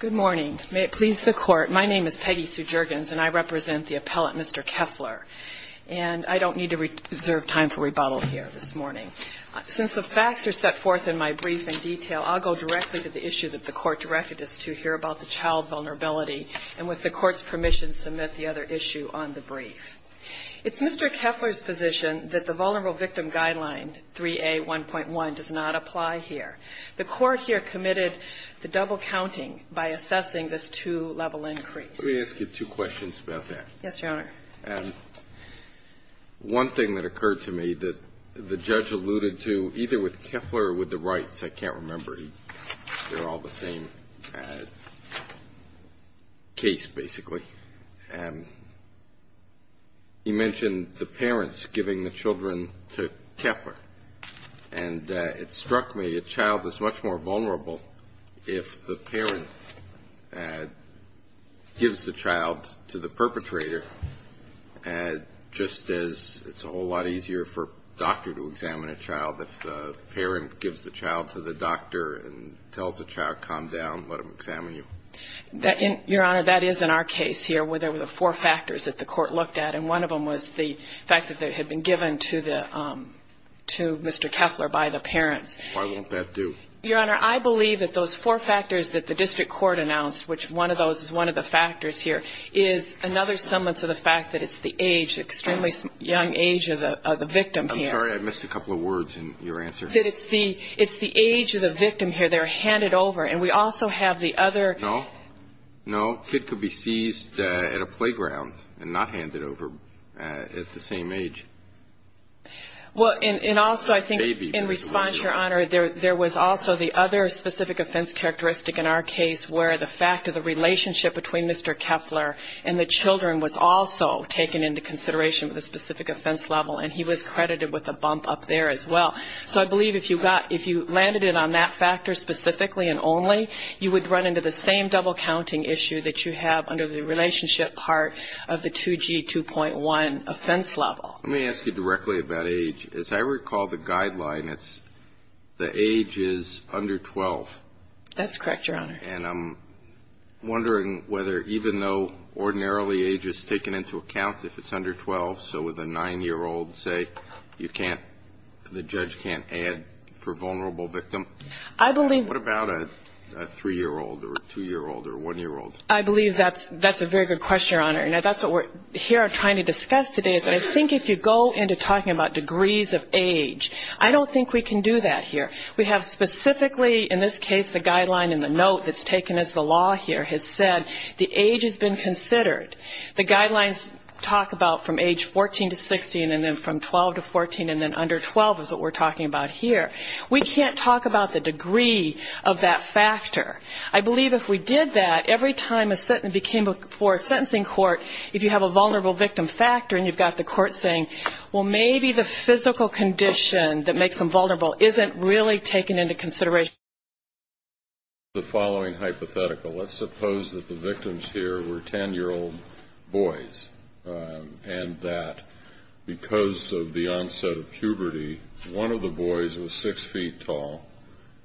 Good morning. May it please the Court, my name is Peggy Sue Juergens and I represent the appellate Mr. Keffler. And I don't need to reserve time for rebuttal here this morning. Since the facts are set forth in my brief in detail, I'll go directly to the issue that the Court directed us to here about the child vulnerability, and with the Court's permission, submit the other issue on the brief. It's Mr. Keffler's position that the Vulnerable Victim Guideline 3A1.1 does not apply here. The Court here committed the double counting by assessing this two-level increase. Let me ask you two questions about that. Yes, Your Honor. One thing that occurred to me that the judge alluded to, either with Keffler or with the Wrights, I can't remember. They're all the same case, basically. He mentioned the parents giving the children to Keffler. And it struck me a child is much more vulnerable if the parent gives the child to the perpetrator, just as it's a whole lot easier for a doctor to examine a child. If the parent gives the child to the doctor and tells the child, calm down, let him examine you. Your Honor, that is in our case here, where there were the four factors that the Court looked at, and one of them was the fact that it had been given to Mr. Keffler by the parents. Why won't that do? Your Honor, I believe that those four factors that the district court announced, which one of those is one of the factors here, is another semblance of the fact that it's the age, extremely young age of the victim here. I'm sorry, I missed a couple of words in your answer. That it's the age of the victim here, they're handed over, and we also have the other... No, no, a kid could be seized at a playground and not handed over at the same age. Well, and also I think in response, Your Honor, there was also the other specific offense characteristic in our case, where the fact of the relationship between Mr. Keffler and the children was also taken into consideration with a specific offense level, and he was credited with a bump up there as well. So I believe if you landed it on that factor specifically and only, you would run into the same double-counting issue that you have under the relationship part of the 2G2.1 offense level. Let me ask you directly about age. As I recall the guideline, it's the age is under 12. That's correct, Your Honor. And I'm wondering whether even though ordinarily age is taken into account if it's under 12, so with a 9-year-old, say, you can't, the judge can't add for vulnerable victim. I believe... What about a 3-year-old or a 2-year-old or a 1-year-old? I believe that's a very good question, Your Honor, and that's what we're here trying to discuss today is that I think if you go into talking about degrees of age, I don't think we can do that here. We have specifically in this case the guideline in the note that's taken as the law here has said the age has been considered. The guidelines talk about from age 14 to 16 and then from 12 to 14 and then under 12 is what we're talking about here. We can't talk about the degree of that factor. I believe if we did that, every time a sentence became before a sentencing court, if you have a vulnerable victim factor and you've got the court saying, well, maybe the physical condition that makes them vulnerable isn't really taken into consideration. The following hypothetical, let's suppose that the victims here were 10-year-old boys and that because of the onset of puberty, one of the boys was 6 feet tall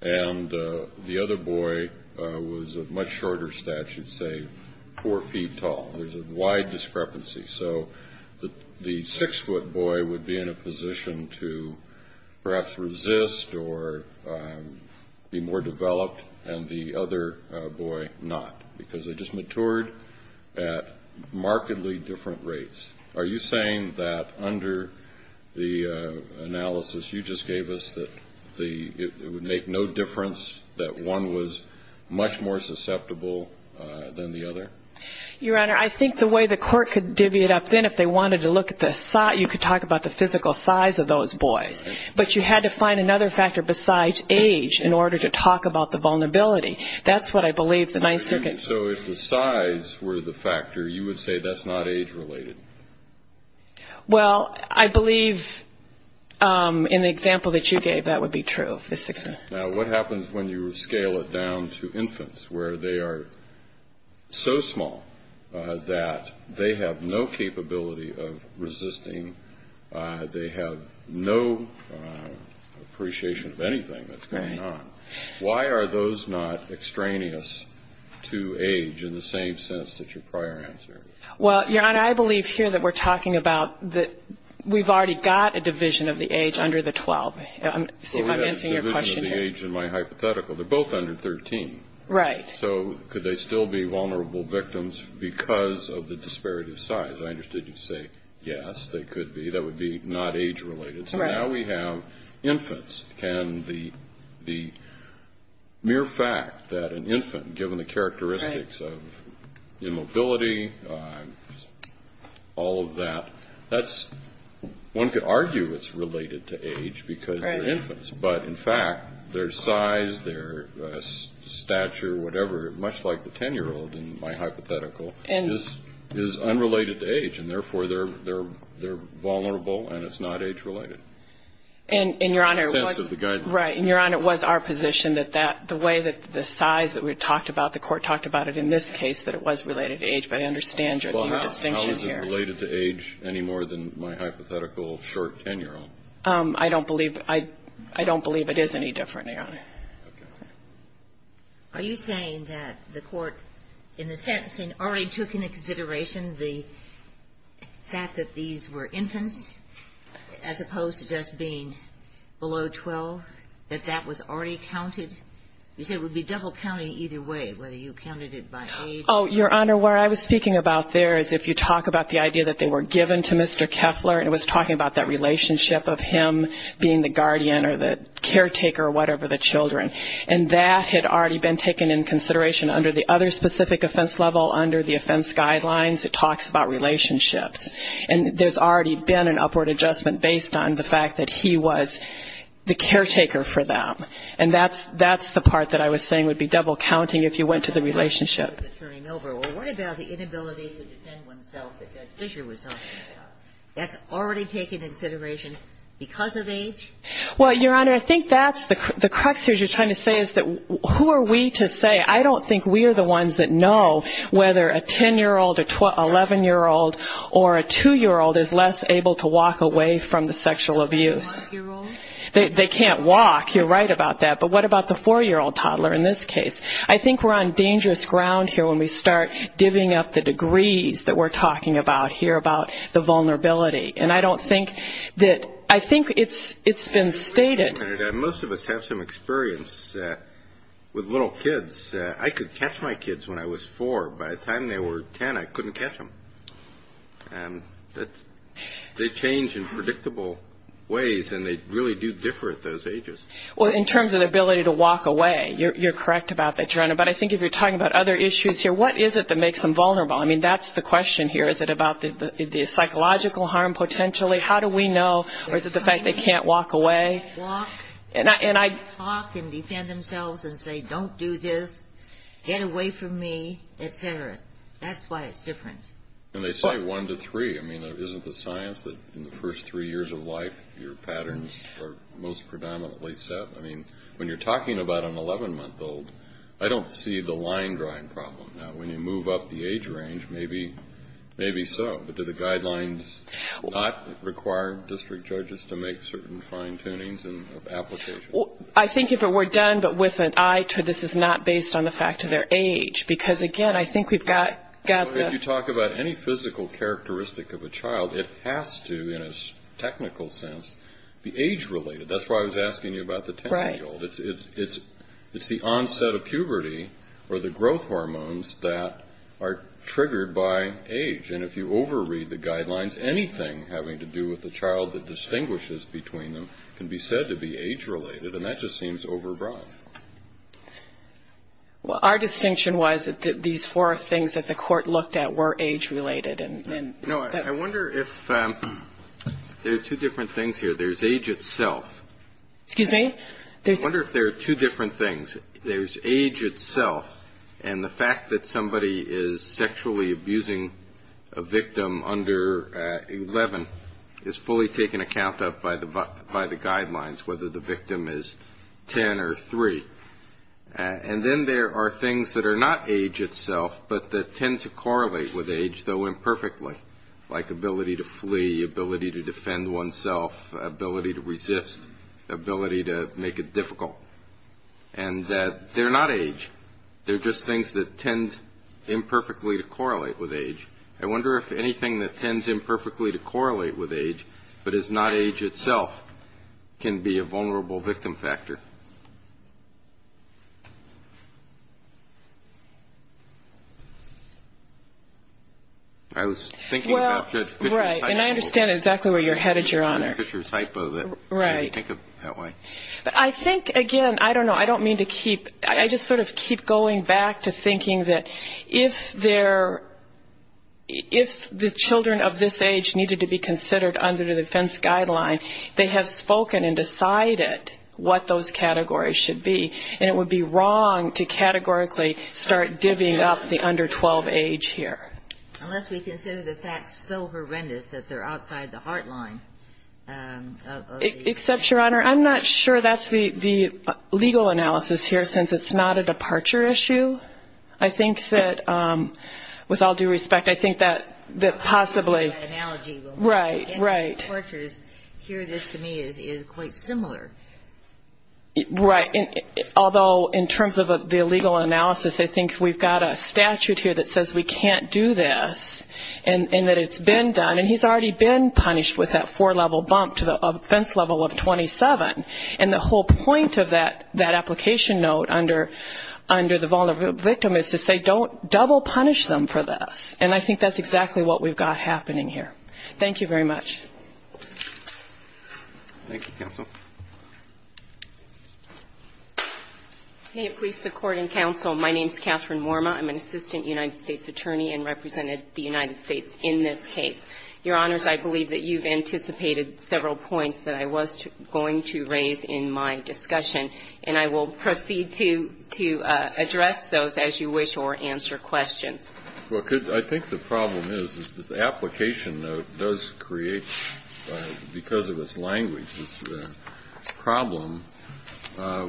and the other boy was of much shorter stature, say 4 feet tall. There's a wide discrepancy. So the 6-foot boy would be in a position to perhaps resist or be more developed and the other boy not, because they just matured at markedly different rates. Are you saying that under the analysis you just gave us that it would make no difference that one was much more susceptible than the other? Your Honor, I think the way the court could divvy it up then if they wanted to look at the size, you could talk about the physical size of those boys. But you had to find another factor besides age in order to talk about the vulnerability. That's what I believe the Ninth Circuit... Well, I believe in the example that you gave, that would be true. Now, what happens when you scale it down to infants where they are so small that they have no capability of resisting? They have no appreciation of anything that's going on. Why are those not extraneous to age in the same sense that your prior answer is? Well, Your Honor, I believe here that we're talking about that we've already got a division of the age under the 12. I'm answering your question here. But we have a division of the age in my hypothetical. They're both under 13. Right. So could they still be vulnerable victims because of the disparity of size? As far as I understood, you'd say, yes, they could be. That would be not age-related. So now we have infants. And the mere fact that an infant, given the characteristics of immobility, all of that, one could argue it's related to age because they're infants. But in fact, their size, their stature, whatever, much like the 10-year-old in my hypothetical, is unrelated to age. And therefore, they're vulnerable and it's not age-related. In the sense of the guidance. Right. And, Your Honor, it was our position that the way that the size that we talked about, the Court talked about it in this case, that it was related to age. But I understand your distinction here. How is it related to age any more than my hypothetical short 10-year-old? I don't believe it is any different, Your Honor. Are you saying that the Court, in the sentencing, already took into consideration the fact that these were infants as opposed to just being below 12, that that was already counted? You said it would be double-counting either way, whether you counted it by age. Oh, Your Honor, what I was speaking about there is if you talk about the idea that they were given to Mr. Keffler, and it was talking about that relationship of him being the guardian or the caretaker or whatever, the children. And that had already been taken into consideration under the other specific offense level, under the offense guidelines. It talks about relationships. And there's already been an upward adjustment based on the fact that he was the caretaker for them. And that's the part that I was saying would be double-counting if you went to the relationship. Well, what about the inability to defend oneself that Judge Fischer was talking about? That's already taken into consideration because of age? Well, Your Honor, I think that's the crux here is you're trying to say is who are we to say? I don't think we are the ones that know whether a 10-year-old or 11-year-old or a 2-year-old is less able to walk away from the sexual abuse. They can't walk. I think you're right about that, but what about the 4-year-old toddler in this case? I think we're on dangerous ground here when we start divvying up the degrees that we're talking about here about the vulnerability. And I don't think that I think it's been stated. Most of us have some experience with little kids. I could catch my kids when I was 4. By the time they were 10, I couldn't catch them. They change in predictable ways, and they really do differ at those ages. Well, in terms of the ability to walk away, you're correct about that, Your Honor. But I think if you're talking about other issues here, what is it that makes them vulnerable? I mean, that's the question here. Is it about the psychological harm potentially? How do we know? Or is it the fact they can't walk away? And they say one to three. I mean, isn't the science that in the first three years of life, your patterns are most predominantly set? I mean, when you're talking about an 11-month-old, I don't see the line-drawing problem. Now, when you move up the age range, maybe so. But do the guidelines not require district judges to make certain fine-tunings and applications? I think if it were done, but with an eye to this is not based on the fact of their age. Because, again, I think we've got the ---- It's the onset of puberty or the growth hormones that are triggered by age. And if you over-read the guidelines, anything having to do with the child that distinguishes between them can be said to be age-related. And that just seems over-broad. Well, our distinction was that these four things that the Court looked at were age-related. No, I wonder if there are two different things here. There's age itself. Excuse me? I wonder if there are two different things. There's age itself, and the fact that somebody is sexually abusing a victim under 11 is fully taken account of by the guidelines, whether the victim is 10 or 3. And then there are things that are not age itself, but that tend to correlate with age, though imperfectly, like ability to flee, ability to defend oneself, ability to resist, ability to make it difficult. And they're not age. They're just things that tend imperfectly to correlate with age. I wonder if anything that tends imperfectly to correlate with age but is not age itself can be a vulnerable victim factor. I was thinking about Judge Fisher's hypo. Well, right, and I understand exactly where you're headed, Your Honor. Right. I think, again, I don't know, I don't mean to keep, I just sort of keep going back to thinking that if the children of this age needed to be considered under the defense guideline, they have spoken and decided what those categories should be, and it would be wrong to categorically start divvying up the under 12 age here. Unless we consider the facts so horrendous that they're outside the heartline. Except, Your Honor, I'm not sure that's the legal analysis here, since it's not a departure issue. I think that, with all due respect, I think that possibly. I don't think that analogy will work. Right, right. I mean, it's not a departure. Here, this to me is quite similar. Right, although in terms of the legal analysis, I think we've got a statute here that says we can't do this, and that it's been done, and he's already been punished with that four-level bump to the offense level of 27. And the whole point of that application note under the vulnerable victim is to say don't double punish them for this. And I think that's exactly what we've got happening here. Thank you very much. Thank you, counsel. May it please the Court and counsel, my name is Catherine Worma. I'm an assistant United States attorney and represented the United States in this case. Your Honors, I believe that you've anticipated several points that I was going to raise in my discussion, and I will proceed to address those as you wish or answer questions. Well, I think the problem is, is the application note does create, because of its language, this problem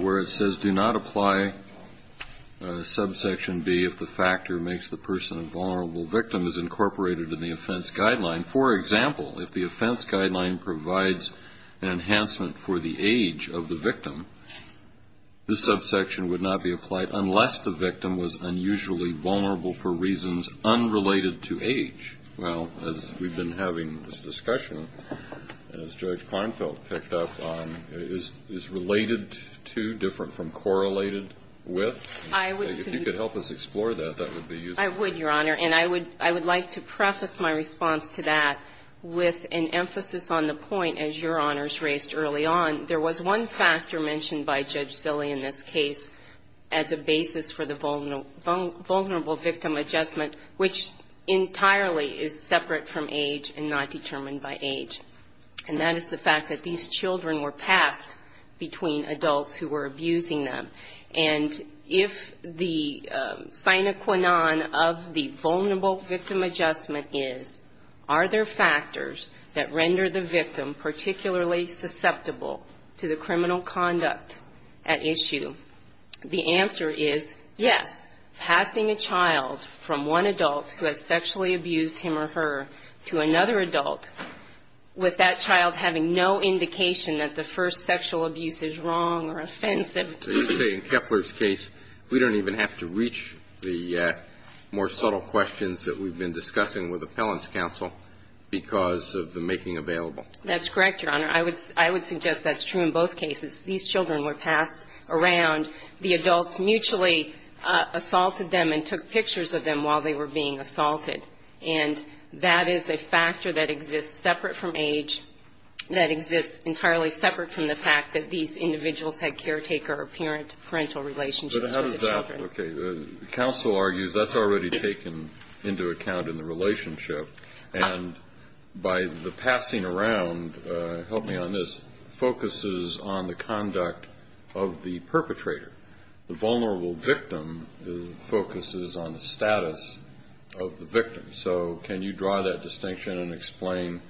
where it says do not apply subsection B if the factor makes the person a vulnerable victim is incorporated in the offense guideline. For example, if the offense guideline provides an enhancement for the age of the victim, this subsection would not be applied unless the victim was unusually vulnerable for reasons unrelated to age. Well, as we've been having this discussion, as Judge Klinefeld picked up on, is related to, different from, correlated with? If you could help us explore that, that would be useful. I would, Your Honor, and I would like to preface my response to that with an emphasis on the point, as Your Honors raised early on, there was one factor mentioned by Judge Zille in this case as a basis for the vulnerable victim adjustment, which entirely is separate from age and not determined by age. And that is the fact that these children were passed between adults who were abusing them, and if the sine qua non of the vulnerable victim adjustment is, are there factors that render the victim particularly susceptible to the criminal conduct at issue? The answer is yes. Passing a child from one adult who has sexually abused him or her to another adult with that child having no indication that the first sexual abuse is wrong or offensive And I would say in Kepler's case, we don't even have to reach the more subtle questions that we've been discussing with Appellant's counsel because of the making available. That's correct, Your Honor. I would suggest that's true in both cases. These children were passed around. The adults mutually assaulted them and took pictures of them, and the child was sexually abused. And that's true in both cases. But how does that, okay, counsel argues that's already taken into account in the relationship. And by the passing around, help me on this, focuses on the conduct of the perpetrator. The vulnerable victim focuses on the status of the victim. So can you draw that distinction and explain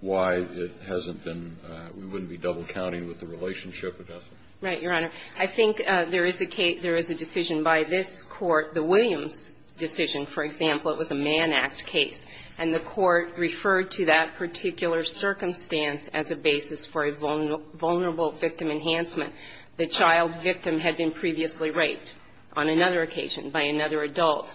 why it hasn't been, we wouldn't be double-counting with the relationship adjustment? Right, Your Honor. I think there is a case, there is a decision by this Court, the Williams decision, for example, it was a Mann Act case, and the Court referred to that particular circumstance as a basis for a vulnerable victim enhancement. The child victim had been previously raped on another occasion by another adult.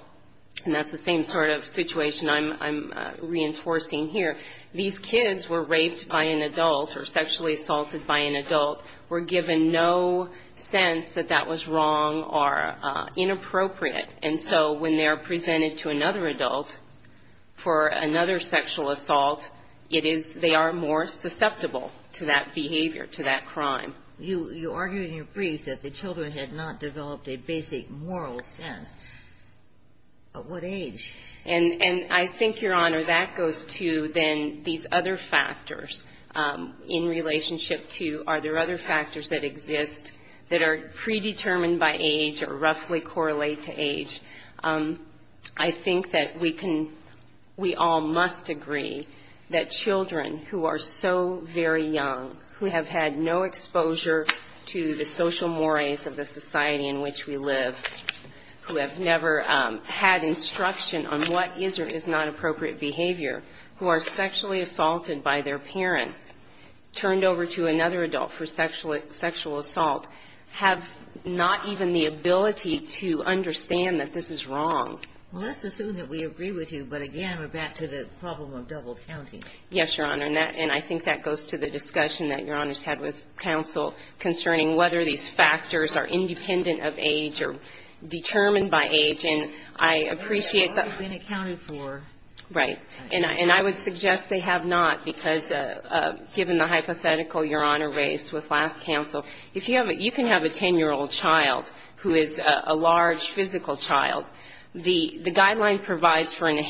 And that's the same sort of situation I'm reinforcing here. These kids were raped by an adult or sexually assaulted by an adult. We're given no sense that that was wrong or inappropriate. And so when they are presented to another adult for another sexual assault, it is, they are more susceptible to that behavior, to that crime. You argue in your brief that the children had not developed a basic moral sense. But what age? And I think, Your Honor, that goes to then these other factors in relationship to are there other factors that exist that are predetermined by age or roughly correlate to age. I think that we can, we all must agree that children who are so very young, who have had no exposure to the social mores of the society in which we live, who have never had instruction on what is or is not appropriate behavior, who are sexually assaulted by their parents, turned over to another adult for sexual assault, have not even the ability to understand that this is wrong. Well, let's assume that we agree with you. But again, we're back to the problem of double counting. Yes, Your Honor. And that, and I think that goes to the discussion that Your Honor's had with counsel concerning whether these factors are independent of age or determined by age. And I appreciate that. But they haven't been accounted for. Right. And I would suggest they have not because given the hypothetical Your Honor raised with last counsel, if you have, you can have a 10-year-old child who is a large physical child. The guideline provides for an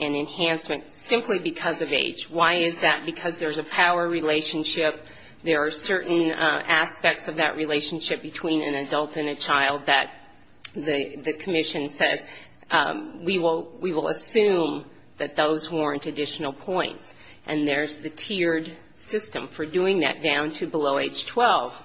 enhancement simply because of age. Why is that? Because there's a power relationship. There are certain aspects of that relationship between an adult and a child that the commission says we will assume that those warrant additional points. And there's the tiered system for doing that down to below age 12.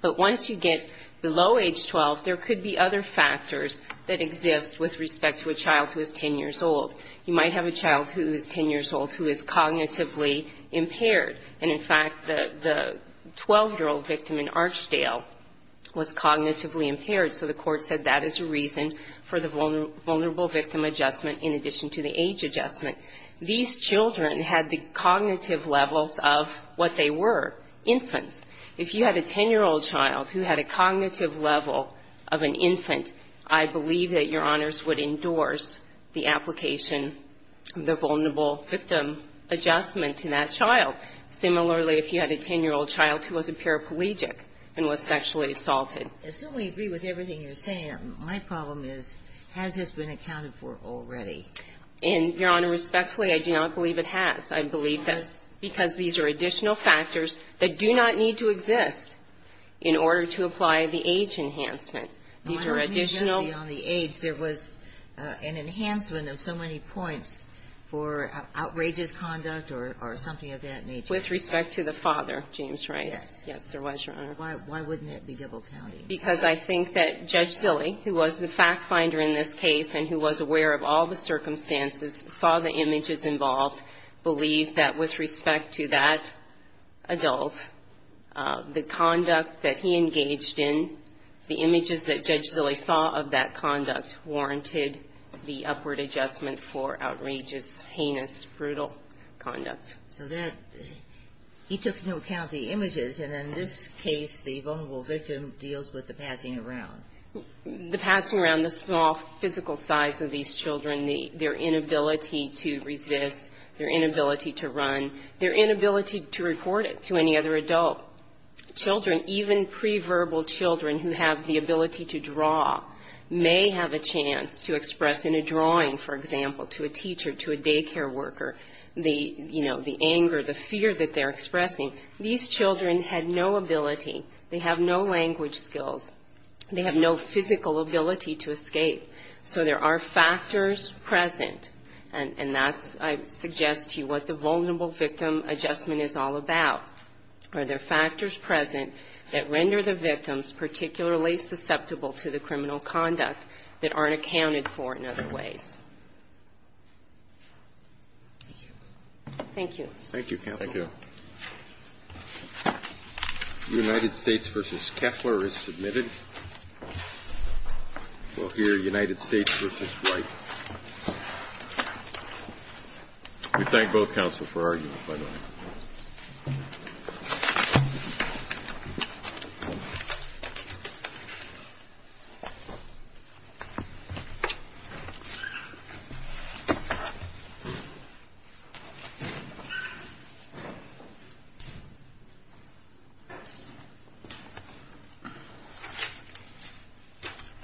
But once you get below age 12, there could be other factors that exist with respect to a child who is 10 years old. You might have a child who is 10 years old who is cognitively impaired. And in fact, the 12-year-old victim in Archdale was cognitively impaired, so the court said that is a reason for the vulnerable victim adjustment in addition to the age adjustment. These children had the cognitive levels of what they were, infants. If you had a 10-year-old child who had a cognitive level of an infant, I believe that Your Honors would endorse the application, the vulnerable victim adjustment to that child. Similarly, if you had a 10-year-old child who was a paraplegic and was sexually assaulted. Ginsburg. I certainly agree with everything you're saying. My problem is, has this been accounted for already? And, Your Honor, respectfully, I do not believe it has. I believe that's because these are additional factors that do not need to exist in order to apply the age enhancement. These are additional. Why don't we just be on the age? There was an enhancement of so many points for outrageous conduct or something of that nature. With respect to the father, James, right? Yes. Yes, there was, Your Honor. Why wouldn't it be double-counting? Because I think that Judge Zille, who was the fact-finder in this case and who was aware of all the circumstances, saw the images involved, believed that with respect to that adult, the conduct that he engaged in, the images that Judge Zille saw of that conduct warranted the upward adjustment for outrageous, heinous, brutal conduct. So that he took into account the images. And in this case, the vulnerable victim deals with the passing around. The passing around, the small physical size of these children, their inability to resist, their inability to run, their inability to report it to any other adult. Children, even pre-verbal children who have the ability to draw may have a chance to express in a drawing, for example, to a teacher, to a daycare worker, the, you know, the anger, the fear that they're expressing. These children had no ability. They have no language skills. They have no physical ability to escape. So there are factors present, and that's, I suggest to you, what the vulnerable victim adjustment is all about. Are there factors present that render the victims particularly susceptible to the criminal conduct that aren't accounted for in other ways? Thank you. Thank you, counsel. Thank you. United States v. Keffler is submitted. We'll hear United States v. White. We thank both counsel for arguing, by the way. Thank you.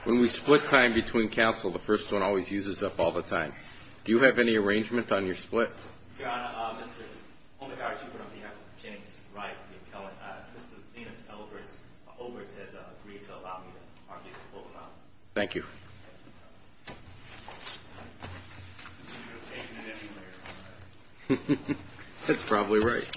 When we split time between counsel, the first one always uses up all the time. Do you have any arrangement on your split? Your Honor, Mr. Omegarachuk, on behalf of James Wright v. Kellen, Mr. Elberts has agreed to allow me to argue the full amount. Thank you. That's probably right.